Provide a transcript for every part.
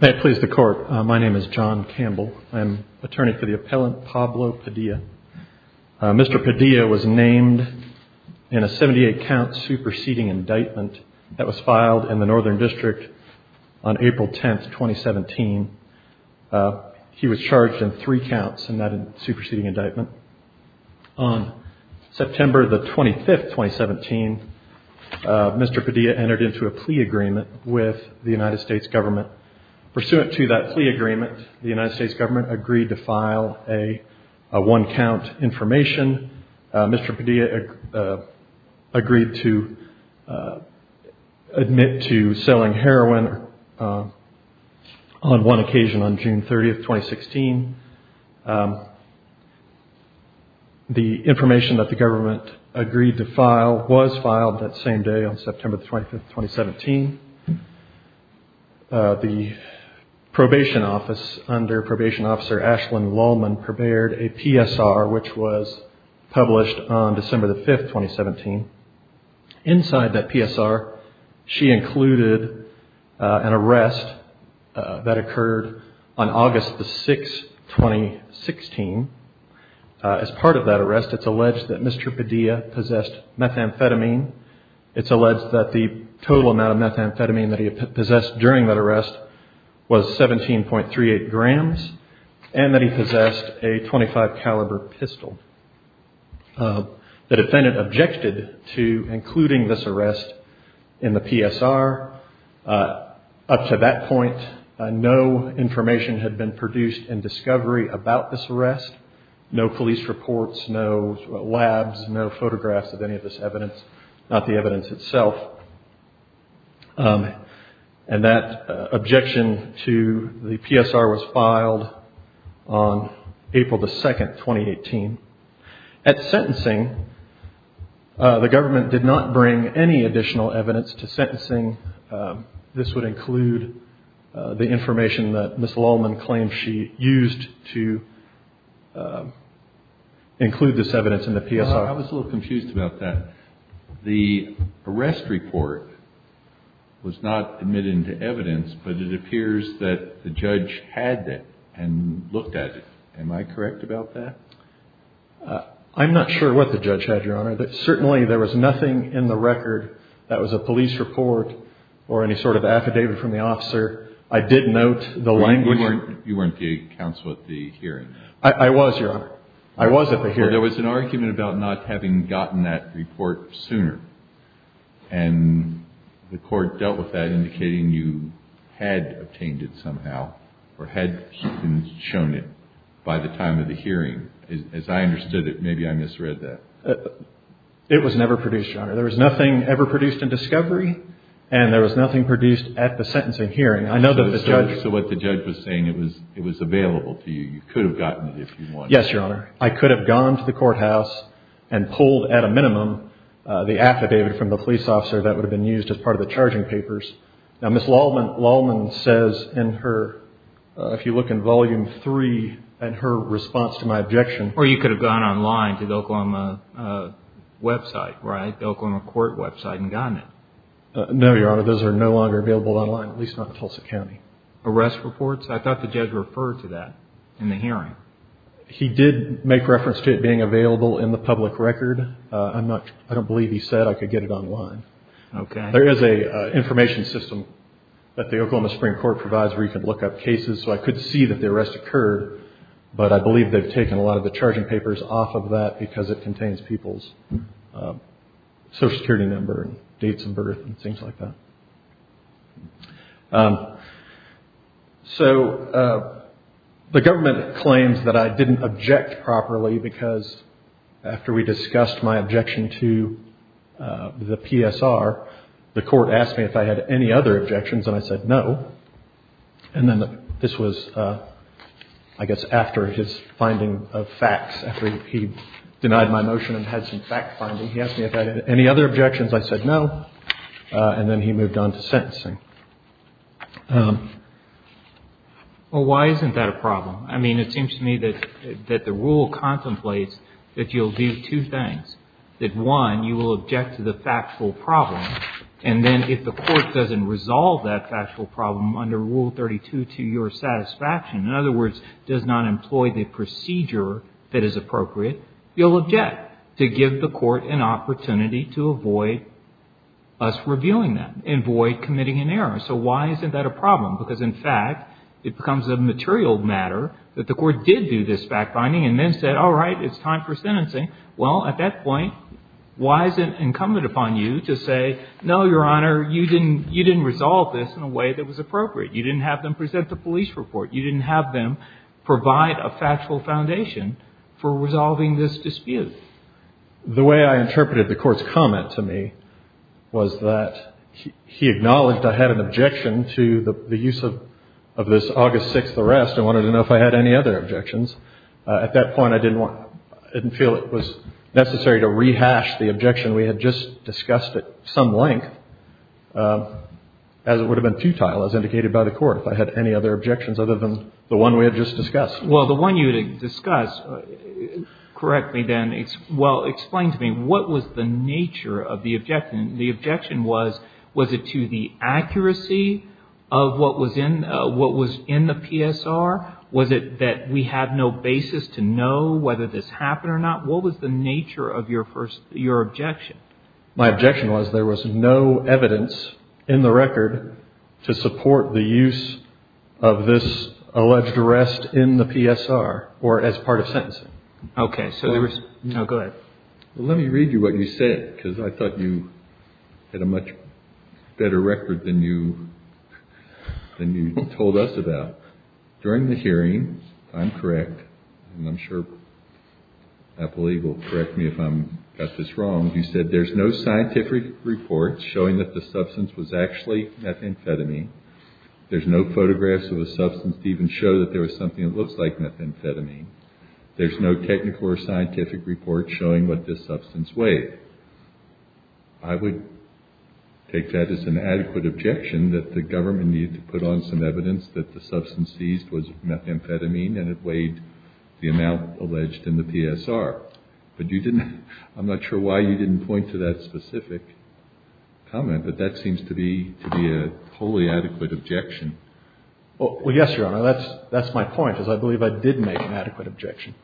May it please the court. My name is John Campbell. I'm attorney for the appellant Pablo Padilla. Mr. Padilla was named in a 78-count superseding indictment that was filed in the Northern District on April 10, 2017. He was charged in three counts in that superseding indictment. On September 25, 2017, Mr. Padilla entered into a plea agreement with the United States government. Pursuant to that plea agreement, the United States government agreed to file a one-count information. Mr. Padilla agreed to admit to selling heroin on one occasion on June 30, 2016. The information that the government agreed to file was filed that same day on September 25, 2017. The probation office under probation officer Ashlyn Lallman prepared a PSR which was published on December 5, 2017. Inside that PSR, she included an arrest that occurred on August 6, 2016. As part of that arrest, it's alleged that Mr. Padilla possessed methamphetamine. It's alleged that the total amount of methamphetamine that he possessed during that arrest was 17.38 grams and that he possessed a .25 caliber pistol. The defendant objected to including this arrest in the PSR. Up to that point, no information had been produced in discovery about this arrest. No police reports, no labs, no photographs of any of this evidence, not the evidence itself. That objection to the PSR was filed on April 2, 2018. At sentencing, the government did not bring any additional evidence to sentencing. This would include the information that Ms. Lallman claimed she used to include this evidence in the PSR. I was a little confused about that. The arrest report was not admitted into evidence, but it appears that the judge had that and looked at it. Am I correct about that? I'm not sure what the judge had, Your Honor. Certainly, there was nothing in the record that was a police report or any sort of affidavit from the officer. I did note the language. You weren't the counsel at the hearing? I was, Your Honor. I was at the hearing. There was an argument about not having gotten that report sooner, and the court dealt with that as I understood it. Maybe I misread that. It was never produced, Your Honor. There was nothing ever produced in discovery, and there was nothing produced at the sentencing hearing. I know that the judge... So what the judge was saying, it was available to you. You could have gotten it if you wanted. Yes, Your Honor. I could have gone to the courthouse and pulled at a minimum the affidavit from the police officer that would have been used as part of the charging papers. Now, Ms. Lallman says in her, if you look in Volume 3, in her response to my objection... Or you could have gone online to the Oklahoma website, right? The Oklahoma court website and gotten it. No, Your Honor. Those are no longer available online, at least not in Tulsa County. Arrest reports? I thought the judge referred to that in the hearing. He did make reference to it being available in the public record. I don't believe he said I could get it online. Okay. There is an information system that the Oklahoma Supreme Court provides where you can look up cases. So I could see that the arrest occurred, but I believe they've taken a lot of the charging papers off of that because it contains people's Social Security number and dates of birth and things like that. So the government claims that I didn't object properly because after we discussed my objection to the PSR, the court asked me if I had any other objections, and I said no. And then this was, I guess, after his finding of facts, after he denied my motion and had some fact-finding. He asked me if I had any other objections. I said no. And then he moved on to sentencing. Well, why isn't that a problem? I mean, it seems to me that the rule contemplates that you'll do two things, that one, you will object to the factual problem, and then if the court doesn't resolve that factual problem under Rule 32 to your satisfaction, in other words, does not employ the procedure that is appropriate, you'll object to give the court an opportunity to avoid us revealing that and avoid committing an error. So why isn't that a problem? Because in fact, it becomes a material matter that the court did do this fact-finding and then said, all right, it's time for sentencing. Well, at that point, why is it incumbent upon you to say, no, Your Honor, you didn't resolve this in a way that was appropriate. You didn't have them present the police report. You didn't have them provide a factual foundation for resolving this dispute. The way I interpreted the court's comment to me was that he acknowledged I had an objection to the use of this August 6th arrest. I wanted to know if I had any other objections. At that point, I didn't feel it was necessary to rehash the objection we had just discussed at some length, as it would have been futile, as indicated by the court, if I had any other objections other than the one we had just discussed. Well, the one you didn't discuss correctly then, well, explain to me, what was the nature of the objection? The objection was, was it to the accuracy of what was in the PSR? Was it that we have no basis to know whether this happened or not? What was the nature of your objection? My objection was there was no evidence in the record to support the use of this alleged arrest in the PSR or as part of sentencing. Okay. So there was, no, go ahead. Well, let me read you what you said, because I thought you had a much better record than you told us about. During the hearing, if I'm correct, and I'm sure Apple Eagle will correct me if I've got this wrong, you said there's no scientific report showing that the substance was actually methamphetamine. There's no photographs of the substance to even show that there was something that looks like methamphetamine. There's no technical or scientific report showing what this substance weighed. I would take that as an adequate objection that the government needed to put on some evidence that the substance seized was methamphetamine and it weighed the amount alleged in the PSR. But you didn't, I'm not sure why you didn't point to that specific comment, but that seems to be a wholly adequate objection. Well, yes, Your Honor, that's my point, is I believe I did make an adequate objection.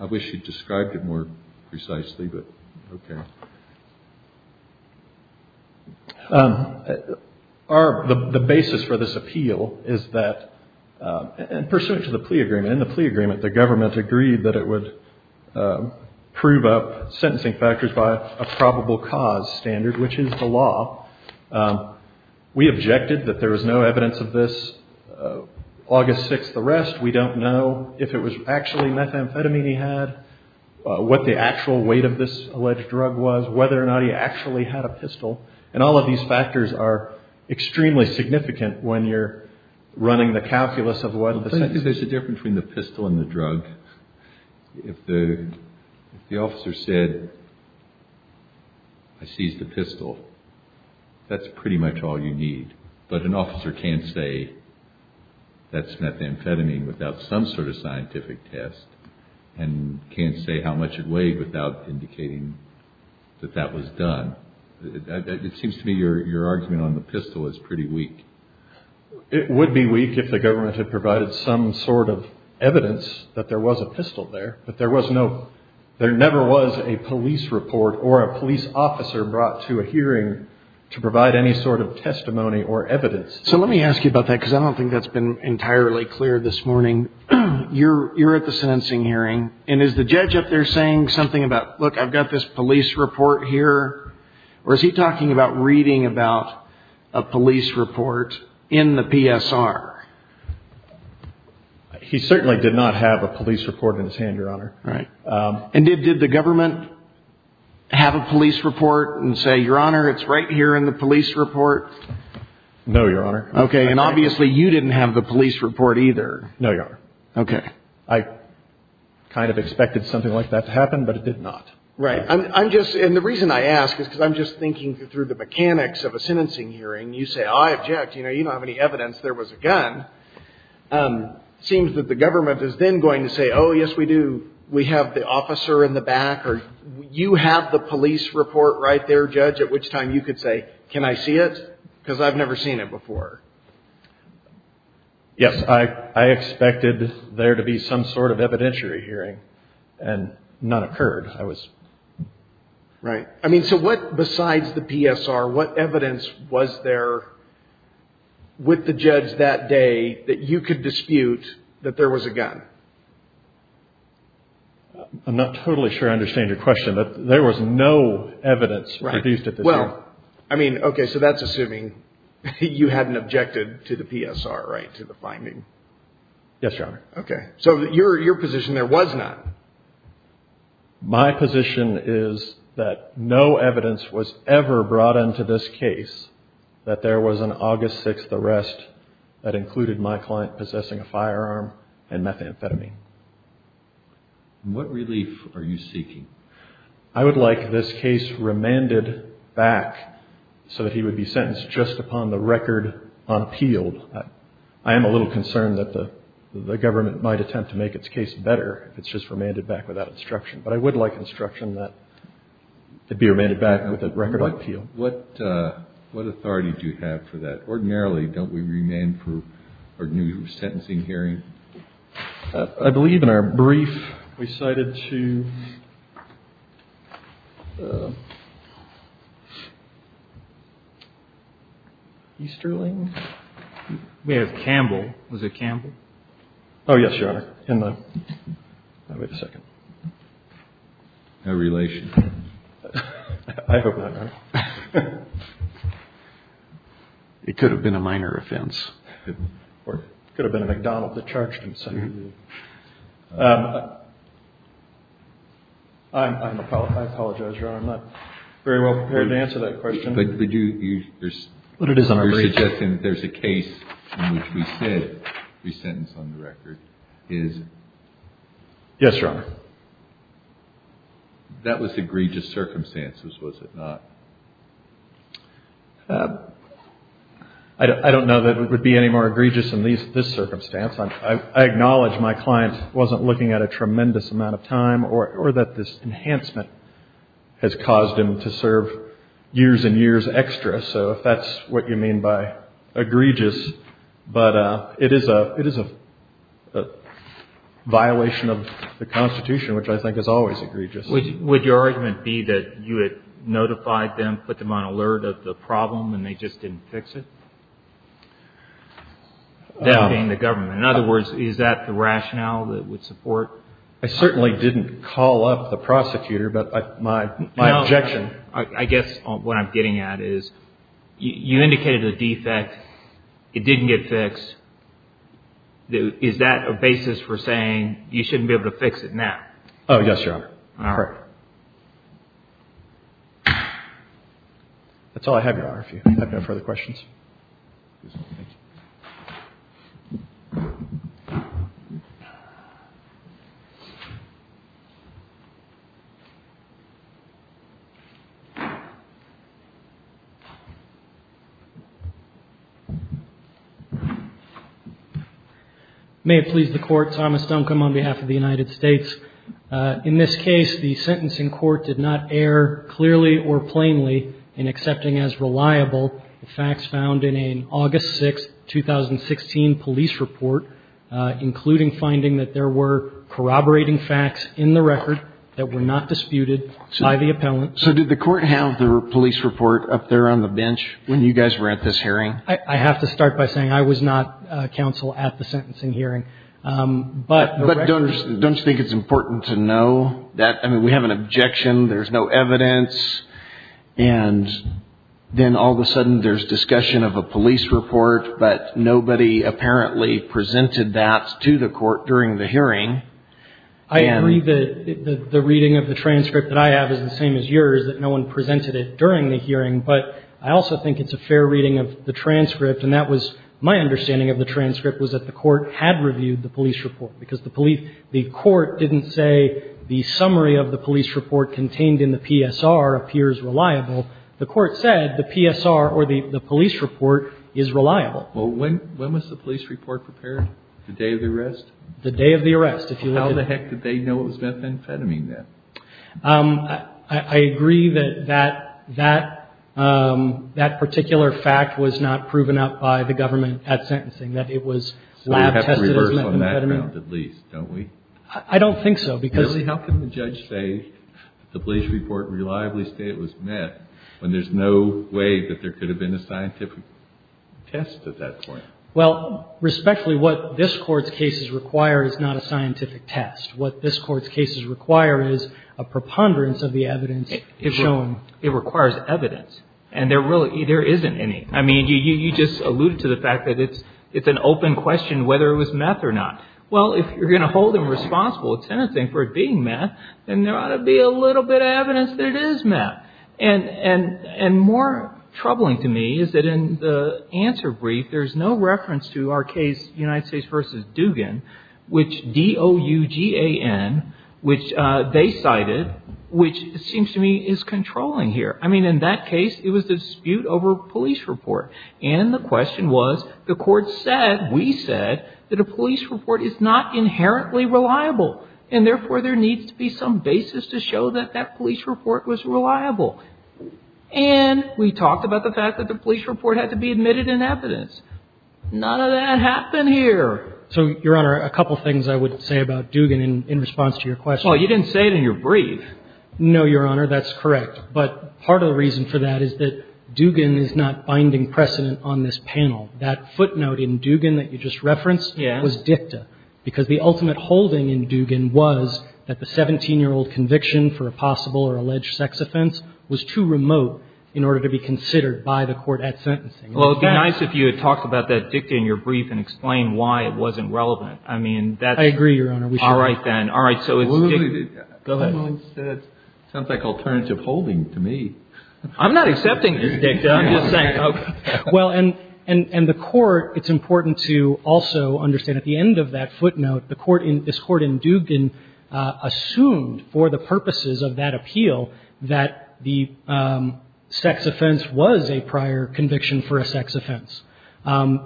I wish you'd described it more precisely, but okay. The basis for this appeal is that, in pursuit of the plea agreement, in the plea agreement, the government agreed that it would prove up sentencing factors by a probable cause standard, which is the law. We objected that there was no evidence of this August 6th arrest. We don't know if it was actually methamphetamine he had, what the actual weight of this alleged drug was, whether or not he actually had a pistol. And all of these factors are extremely significant when you're running the calculus of what the substance is. I think there's a difference between the pistol and the drug. If the officer said, I seized a pistol, that's pretty much all you need. But an officer can't say that's methamphetamine without some sort of scientific test and can't say how much it weighed without indicating that that was done. It seems to me your argument on the pistol is pretty weak. It would be weak if the government had provided some sort of evidence that there was a pistol there, but there never was a police report or a police officer brought to a hearing to provide any sort of testimony or evidence. So let me ask you about that, because I don't think that's been entirely clear this morning. You're at the sentencing hearing, and is the judge up there saying something about, look, I've got this police report here, or is he talking about reading about a police report in the PSR? He certainly did not have a police report in his hand, Your Honor. And did the government have a police report and say, Your Honor, it's right here in the police report? No, Your Honor. Okay, and obviously you didn't have the police report either. No, Your Honor. Okay. I kind of expected something like that to happen, but it did not. Right. I'm just – and the reason I ask is because I'm just thinking through the mechanics of a sentencing hearing. You say, oh, I object. You know, you don't have any evidence there was a gun. It seems that the government is then going to say, oh, yes, we do. We have the officer in the back, or you have the police report right there, Judge, at which time you could say, can I see it, because I've never seen it before. Yes, I expected there to be some sort of evidentiary hearing, and none occurred. Right. I mean, so what – besides the PSR, what evidence was there with the judge that day that you could dispute that there was a gun? I'm not totally sure I understand your question, but there was no evidence produced at the time. Well, I mean, okay, so that's assuming you hadn't objected to the PSR, right, to the finding. Yes, Your Honor. Okay. So your position there was not. My position is that no evidence was ever brought into this case that there was an August 6th arrest that included my client possessing a firearm and methamphetamine. What relief are you seeking? I would like this case remanded back so that he would be sentenced just upon the record on appeal. I am a little concerned that the government might attempt to make its case better if it's just remanded back without instruction, but I would like instruction that it be remanded back with a record on appeal. What authority do you have for that? Ordinarily, don't we remand for a new sentencing hearing? I believe in our brief we cited to Easterling? We have Campbell. Was it Campbell? Oh, yes, Your Honor. Wait a second. No relation. I hope not, Your Honor. It could have been a minor offense. Or it could have been a McDonald that charged him. I apologize, Your Honor. I'm not very well prepared to answer that question. But you're suggesting there's a case in which we said he's sentenced on the record. Yes, Your Honor. That was egregious circumstances, was it not? I don't know that it would be any more egregious in this circumstance. I acknowledge my client wasn't looking at a tremendous amount of time or that this enhancement has caused him to serve years and years extra. So if that's what you mean by egregious, but it is a violation of the Constitution, which I think is always egregious. Would your argument be that you had notified them, put them on alert of the problem, and they just didn't fix it? That being the government. In other words, is that the rationale that would support? I certainly didn't call up the prosecutor, but my objection. I guess what I'm getting at is you indicated a defect. It didn't get fixed. Is that a basis for saying you shouldn't be able to fix it now? Oh, yes, Your Honor. All right. That's all I have, Your Honor, if you have no further questions. Thank you. May it please the Court. Thomas Duncombe on behalf of the United States. In this case, the sentencing court did not err clearly or plainly in accepting as reliable the facts found in an August 6, 2016, police report, including finding that there were corroborating facts in the record that were not disputed by the appellant. So did the court have the police report up there on the bench when you guys were at this hearing? I have to start by saying I was not counsel at the sentencing hearing. But don't you think it's important to know that? I mean, we have an objection. There's no evidence. And then all of a sudden there's discussion of a police report, but nobody apparently presented that to the court during the hearing. I agree that the reading of the transcript that I have is the same as yours, that no one presented it during the hearing. But I also think it's a fair reading of the transcript, and that was my understanding of the transcript was that the court had reviewed the police report, because the police, the court didn't say the summary of the police report contained in the PSR appears reliable. The court said the PSR or the police report is reliable. Well, when was the police report prepared? The day of the arrest? The day of the arrest. If you look at it. How the heck did they know it was methamphetamine then? I agree that that particular fact was not proven up by the government at sentencing, that it was lab tested as methamphetamine. I mean, I don't think so, because. Really, how can the judge say that the police report reliably state it was meth when there's no way that there could have been a scientific test at that point? Well, respectfully, what this Court's cases require is not a scientific test. What this Court's cases require is a preponderance of the evidence shown. It requires evidence, and there really isn't any. I mean, you just alluded to the fact that it's an open question whether it was meth or not. Well, if you're going to hold them responsible at sentencing for it being meth, then there ought to be a little bit of evidence that it is meth. And more troubling to me is that in the answer brief, there's no reference to our case, United States v. Dugan, which D-O-U-G-A-N, which they cited, which seems to me is controlling here. I mean, in that case, it was the dispute over police report. And the question was, the Court said, we said, that a police report is not inherently reliable. And therefore, there needs to be some basis to show that that police report was reliable. And we talked about the fact that the police report had to be admitted in evidence. None of that happened here. So, Your Honor, a couple things I would say about Dugan in response to your question. Well, you didn't say it in your brief. No, Your Honor, that's correct. But part of the reason for that is that Dugan is not binding precedent on this panel. That footnote in Dugan that you just referenced was dicta, because the ultimate holding in Dugan was that the 17-year-old conviction for a possible or alleged sex offense was too remote in order to be considered by the Court at sentencing. Well, it would be nice if you had talked about that dicta in your brief and explained why it wasn't relevant. I mean, that's – I agree, Your Honor. All right, then. All right, so it's dicta. Go ahead. Well, it sounds like alternative holding to me. I'm not accepting this dicta. I'm just saying, okay. Well, and the Court, it's important to also understand at the end of that footnote, the Court in – this Court in Dugan assumed for the purposes of that appeal that the sex offense was a prior conviction for a sex offense,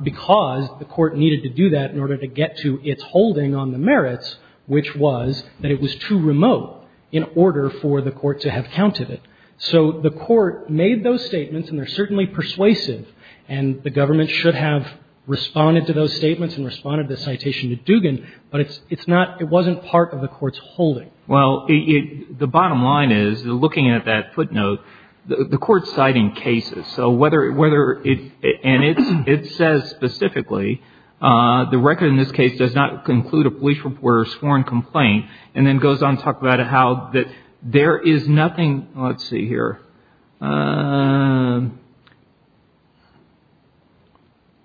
because the Court needed to do that in order to get to its holding on the merits, which was that it was too remote in order for the Court to have counted it. So the Court made those statements, and they're certainly persuasive, and the government should have responded to those statements and responded to the citation to Dugan, but it's not – it wasn't part of the Court's holding. Well, the bottom line is, looking at that footnote, the Court's citing cases. So whether – and it says specifically, the record in this case does not conclude a police reporter's sworn complaint, and then goes on to talk about how there is nothing – let's see here.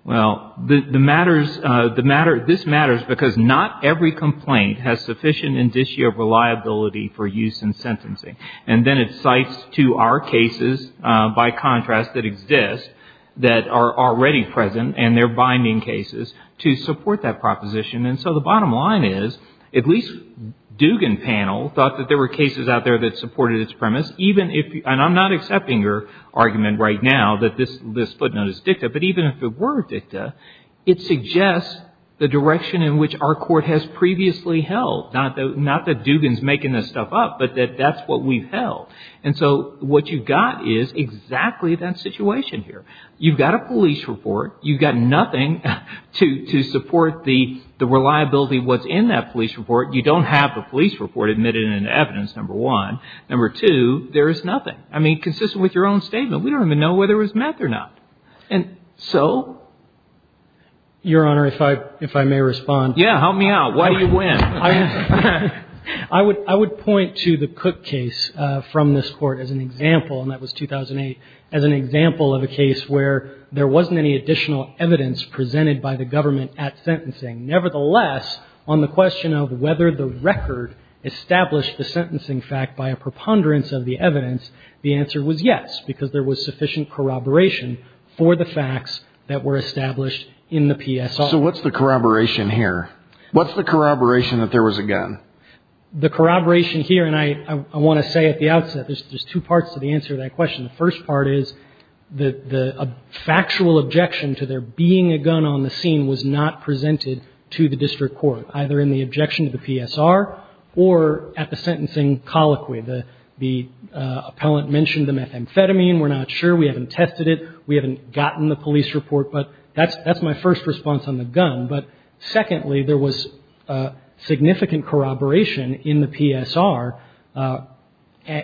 Well, the matter – this matters because not every complaint has sufficient indicio of reliability for use in sentencing. And then it cites to our cases, by contrast, that exist, that are already present, and they're binding cases, to support that proposition. And so the bottom line is, at least Dugan panel thought that there were cases out there that supported its premise, even if – and I'm not accepting your argument right now that this footnote is dicta, but even if it were dicta, it suggests the direction in which our Court has previously held, not that Dugan's making this stuff up, but that that's what we've held. And so what you've got is exactly that situation here. You've got a police report. You've got nothing to support the reliability of what's in that police report. You don't have the police report admitted into evidence, number one. Number two, there is nothing. I mean, consistent with your own statement, we don't even know whether it was met or not. And so – Your Honor, if I may respond. Yeah, help me out. Why do you win? I would point to the Cook case from this Court as an example, and that was 2008, as an example of a case where there wasn't any additional evidence presented by the government at sentencing. Nevertheless, on the question of whether the record established the sentencing fact by a preponderance of the evidence, the answer was yes, because there was sufficient corroboration for the facts that were established in the PSO. So what's the corroboration here? What's the corroboration that there was a gun? The corroboration here, and I want to say at the outset, there's two parts to the answer to that question. The first part is the factual objection to there being a gun on the scene was not presented to the district court, either in the objection to the PSR or at the sentencing colloquy. The appellant mentioned the methamphetamine. We're not sure. We haven't tested it. We haven't gotten the police report. But that's my first response on the gun. But secondly, there was significant corroboration in the PSR,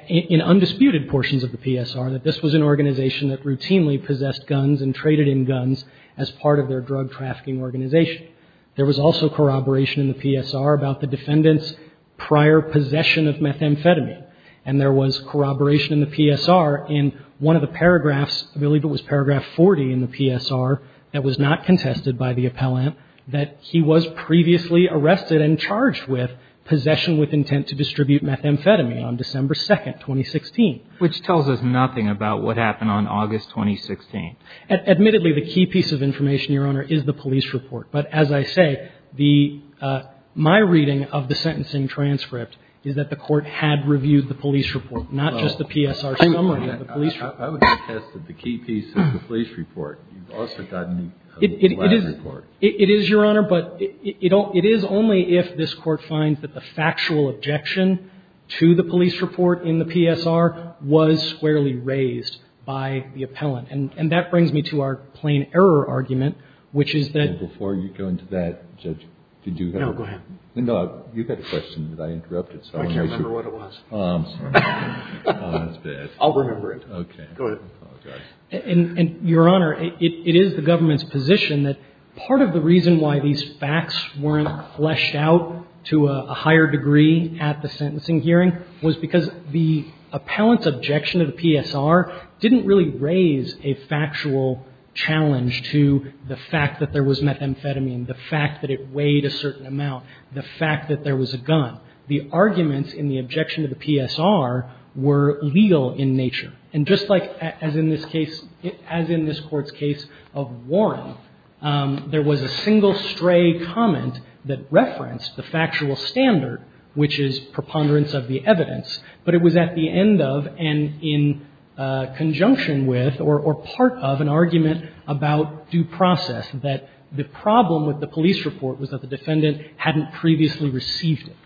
in undisputed portions of the PSR, that this was an organization that routinely possessed guns and traded in guns as part of their drug trafficking organization. There was also corroboration in the PSR about the defendant's prior possession of methamphetamine, and there was corroboration in the PSR in one of the paragraphs I believe it was paragraph 40 in the PSR that was not contested by the appellant that he was previously arrested and charged with possession with intent to distribute methamphetamine on December 2nd, 2016. Which tells us nothing about what happened on August 2016. Admittedly, the key piece of information, Your Honor, is the police report. But as I say, my reading of the sentencing transcript is that the court had reviewed the police report, not just the PSR summary of the police report. I would have attested the key piece of the police report. You've also gotten the last report. It is, Your Honor. But it is only if this Court finds that the factual objection to the police report in the PSR was squarely raised by the appellant. And that brings me to our plain error argument, which is that – Before you go into that, Judge, did you have – No, go ahead. No, you've got a question that I interrupted. I can't remember what it was. I'm sorry. That's bad. I'll remember it. Okay. Go ahead. And, Your Honor, it is the government's position that part of the reason why these facts weren't fleshed out to a higher degree at the sentencing hearing was because the appellant's objection to the PSR didn't really raise a factual challenge to the fact that there was methamphetamine, the fact that it weighed a certain amount, the fact that there was a gun. The arguments in the objection to the PSR were legal in nature. And just like as in this case – as in this Court's case of Warren, there was a single stray comment that referenced the factual standard, which is preponderance of the evidence, but it was at the end of and in conjunction with or part of an argument about due process that the problem with the police report was that the defendant hadn't previously received it.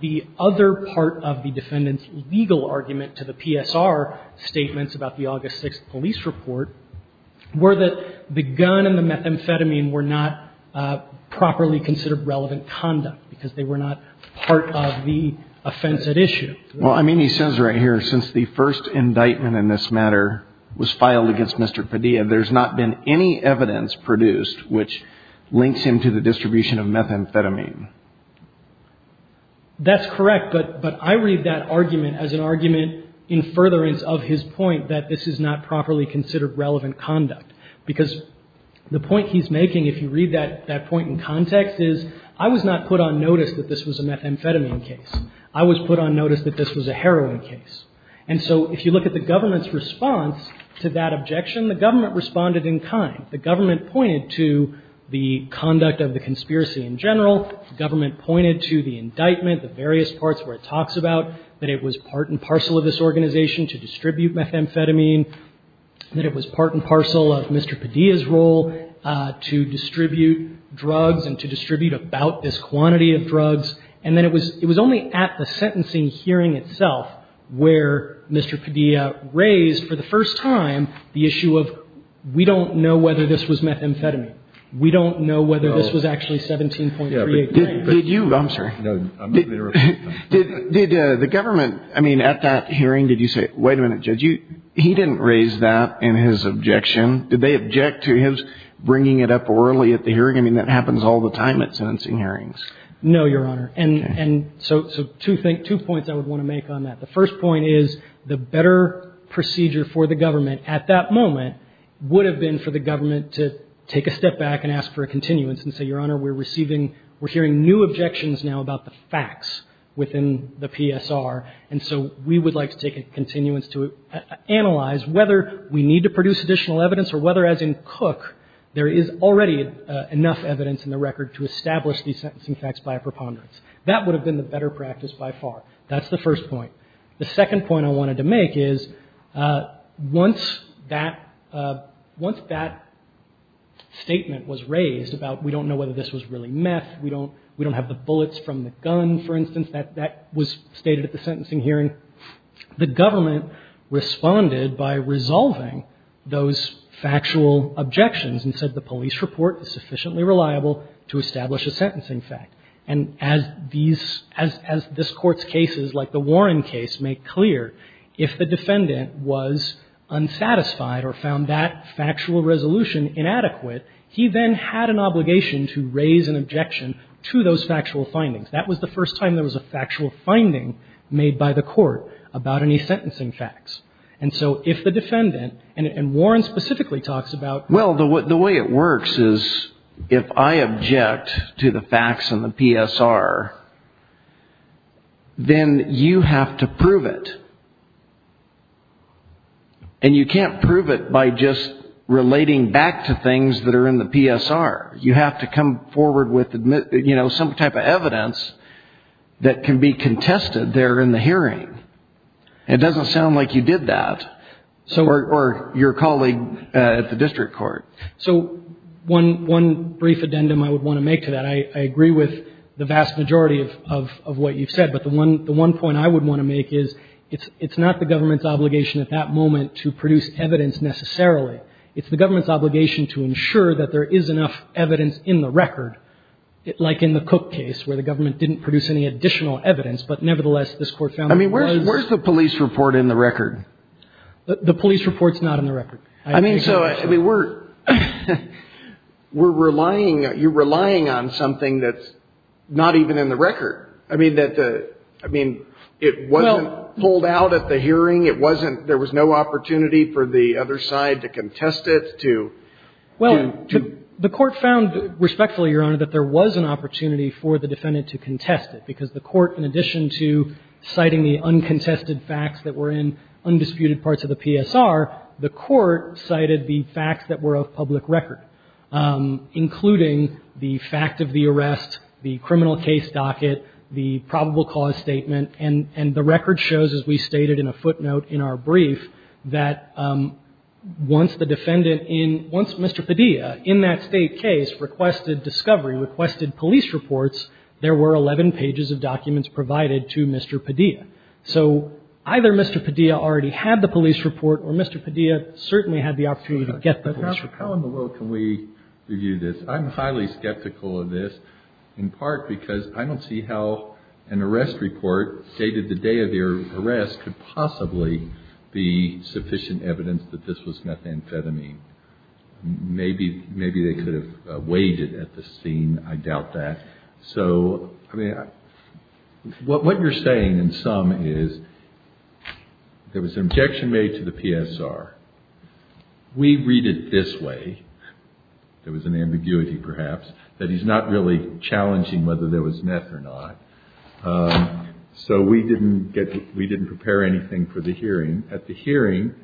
The other part of the defendant's legal argument to the PSR statements about the August 6th police report were that the gun and the methamphetamine were not properly considered relevant conduct because they were not part of the offense at issue. Well, I mean, he says right here, since the first indictment in this matter was filed against Mr. Padilla, there's not been any evidence produced which links him to the methamphetamine. That's correct. But I read that argument as an argument in furtherance of his point that this is not properly considered relevant conduct. Because the point he's making, if you read that point in context, is I was not put on notice that this was a methamphetamine case. I was put on notice that this was a heroin case. And so if you look at the government's response to that objection, the government responded in kind. The government pointed to the conduct of the conspiracy in general. The government pointed to the indictment, the various parts where it talks about that it was part and parcel of this organization to distribute methamphetamine, that it was part and parcel of Mr. Padilla's role to distribute drugs and to distribute about this quantity of drugs. And then it was only at the sentencing hearing itself where Mr. Padilla raised for the first time the issue of we don't know whether this was methamphetamine. We don't know whether this was actually 17.38. Did you – I'm sorry. No, I'm not going to repeat that. Did the government, I mean, at that hearing, did you say, wait a minute, Judge, he didn't raise that in his objection. Did they object to his bringing it up orally at the hearing? I mean, that happens all the time at sentencing hearings. No, Your Honor. And so two points I would want to make on that. The first point is the better procedure for the government at that moment would have been for the government to take a step back and ask for a continuance and say, Your Honor, we're receiving – we're hearing new objections now about the facts within the PSR, and so we would like to take a continuance to analyze whether we need to produce additional evidence or whether, as in Cook, there is already enough evidence in the record to establish these sentencing facts by a preponderance. That would have been the better practice by far. That's the first point. The second point I wanted to make is once that – once that statement was raised about we don't know whether this was really meth, we don't have the bullets from the gun, for instance, that was stated at the sentencing hearing, the government responded by resolving those factual objections and said the police report is sufficiently reliable to establish a sentencing fact. And as these – as this Court's cases like the Warren case make clear, if the defendant was unsatisfied or found that factual resolution inadequate, he then had an obligation to raise an objection to those factual findings. That was the first time there was a factual finding made by the Court about any sentencing facts. And so if the defendant – and Warren specifically talks about – if I object to the facts in the PSR, then you have to prove it. And you can't prove it by just relating back to things that are in the PSR. You have to come forward with, you know, some type of evidence that can be contested there in the hearing. It doesn't sound like you did that or your colleague at the district court. So one brief addendum I would want to make to that, I agree with the vast majority of what you've said, but the one point I would want to make is it's not the government's obligation at that moment to produce evidence necessarily. It's the government's obligation to ensure that there is enough evidence in the record, like in the Cook case where the government didn't produce any additional evidence, but nevertheless, this Court found it was. I mean, where's the police report in the record? The police report's not in the record. I mean, so, I mean, we're – we're relying – you're relying on something that's not even in the record. I mean, that – I mean, it wasn't pulled out at the hearing. It wasn't – there was no opportunity for the other side to contest it, to – Well, the Court found, respectfully, Your Honor, that there was an opportunity for the defendant to contest it, because the Court, in addition to citing the uncontested facts that were in undisputed parts of the PSR, the Court cited the facts that were of public record, including the fact of the arrest, the criminal case docket, the probable cause statement. And – and the record shows, as we stated in a footnote in our brief, that once the defendant in – once Mr. Padilla, in that State case, requested discovery, requested police reports, there were 11 pages of documents provided to Mr. Padilla. So either Mr. Padilla already had the police report, or Mr. Padilla certainly had the opportunity to get the police report. How in the world can we review this? I'm highly skeptical of this, in part because I don't see how an arrest report dated the day of your arrest could possibly be sufficient evidence that this was methamphetamine. Maybe – maybe they could have weighed it at the scene. I doubt that. So, I mean, what – what you're saying in sum is there was an objection made to the PSR. We read it this way – there was an ambiguity, perhaps – that he's not really challenging whether there was meth or not. So we didn't get – we didn't prepare anything for the hearing. At the hearing,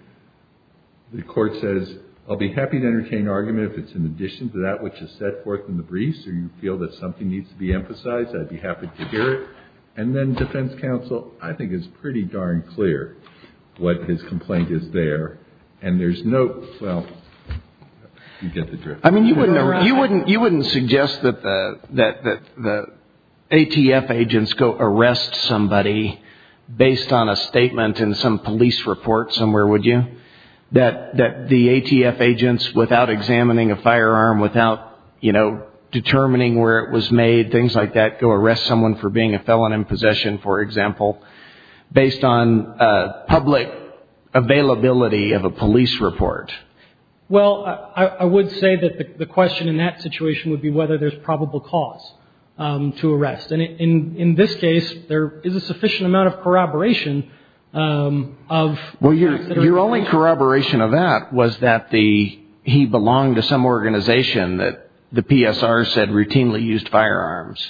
the Court says, I'll be happy to entertain argument if it's in addition to that which is set forth in the briefs, or you feel that something needs to be emphasized, I'd be happy to hear it. And then defense counsel, I think, is pretty darn clear what his complaint is there. And there's no – well, you get the drift. I mean, you wouldn't – you wouldn't suggest that the ATF agents go arrest somebody based on a statement in some police report somewhere, would you? That the ATF agents, without examining a firearm, without, you know, determining where it was made, things like that, go arrest someone for being a felon in possession, for example, based on public availability of a police report. Well, I would say that the question in that situation would be whether there's probable cause to arrest. And in this case, there is a sufficient amount of corroboration of – Well, your only corroboration of that was that he belonged to some organization that the PSR said routinely used firearms.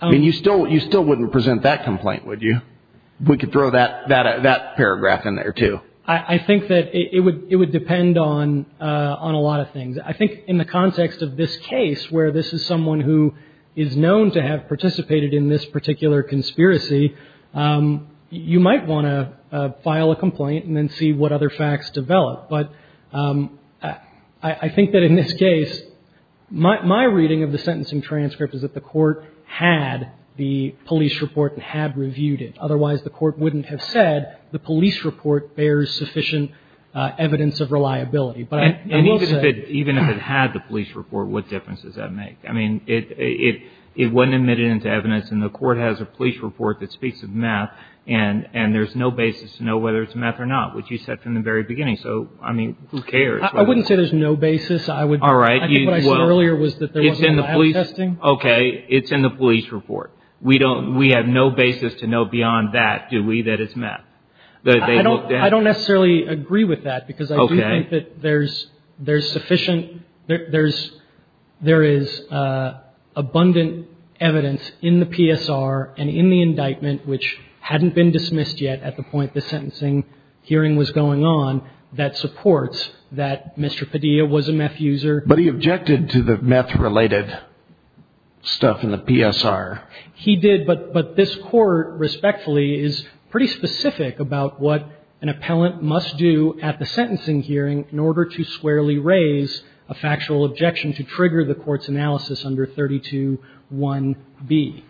I mean, you still wouldn't present that complaint, would you? We could throw that paragraph in there, too. I think that it would depend on a lot of things. I think in the context of this case, where this is someone who is known to have participated in this particular conspiracy, you might want to file a complaint and then see what other facts develop. But I think that in this case, my reading of the sentencing transcript is that the court had the police report and had reviewed it. Otherwise, the court wouldn't have said the police report bears sufficient evidence of reliability. And even if it had the police report, what difference does that make? I mean, it wasn't admitted into evidence, and the court has a police report that speaks of meth, and there's no basis to know whether it's meth or not, which you said from the very beginning. So, I mean, who cares? I wouldn't say there's no basis. All right. I think what I said earlier was that there wasn't any lab testing. Okay. It's in the police report. We don't – we have no basis to know beyond that, do we, that it's meth? I don't necessarily agree with that because I do think that there's – there's sufficient – there is abundant evidence in the PSR and in the indictment, which hadn't been dismissed yet at the point the sentencing hearing was going on, that supports that Mr. Padilla was a meth user. But he objected to the meth-related stuff in the PSR. He did, but this Court, respectfully, is pretty specific about what an appellant must do at the sentencing hearing in order to squarely raise a factual objection to trigger the Court's analysis under 32.1b,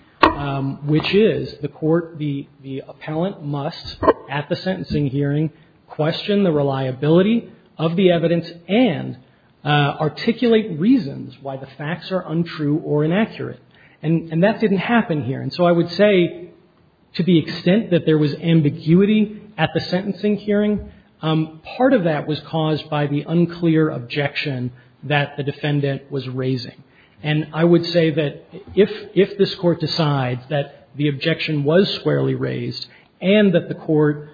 which is the Court, the appellant must at the sentencing hearing question the reliability of the evidence and articulate reasons why the facts are untrue or inaccurate. And that didn't happen here. And so I would say to the extent that there was ambiguity at the sentencing hearing, part of that was caused by the unclear objection that the defendant was raising. And I would say that if – if this Court decides that the objection was squarely raised and that the Court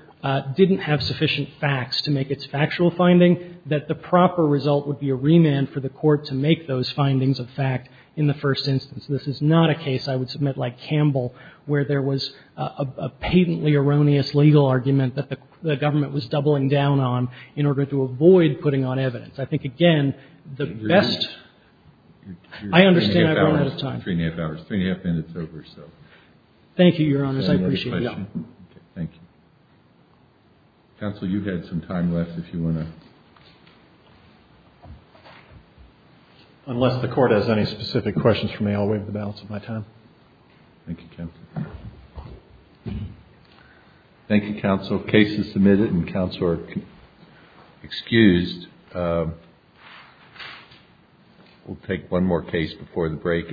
didn't have sufficient facts to make its factual finding, that the proper result would be a remand for the Court to make those findings of fact in the first instance. This is not a case, I would submit, like Campbell, where there was a patently erroneous legal argument that the government was doubling down on in order to avoid putting on evidence. I think, again, the best – I understand I've run out of time. You're 3 1⁄2 hours. 3 1⁄2 hours. 3 1⁄2 minutes over, so. Thank you, Your Honors. I appreciate it. Any other questions? Yeah. Okay. Thank you. Counsel, you've had some time left if you want to. Unless the Court has any specific questions for me, I'll waive the balance of my time. Thank you, Counsel. Thank you, Counsel. The case is submitted, and counsel are excused. We'll take one more case before the break.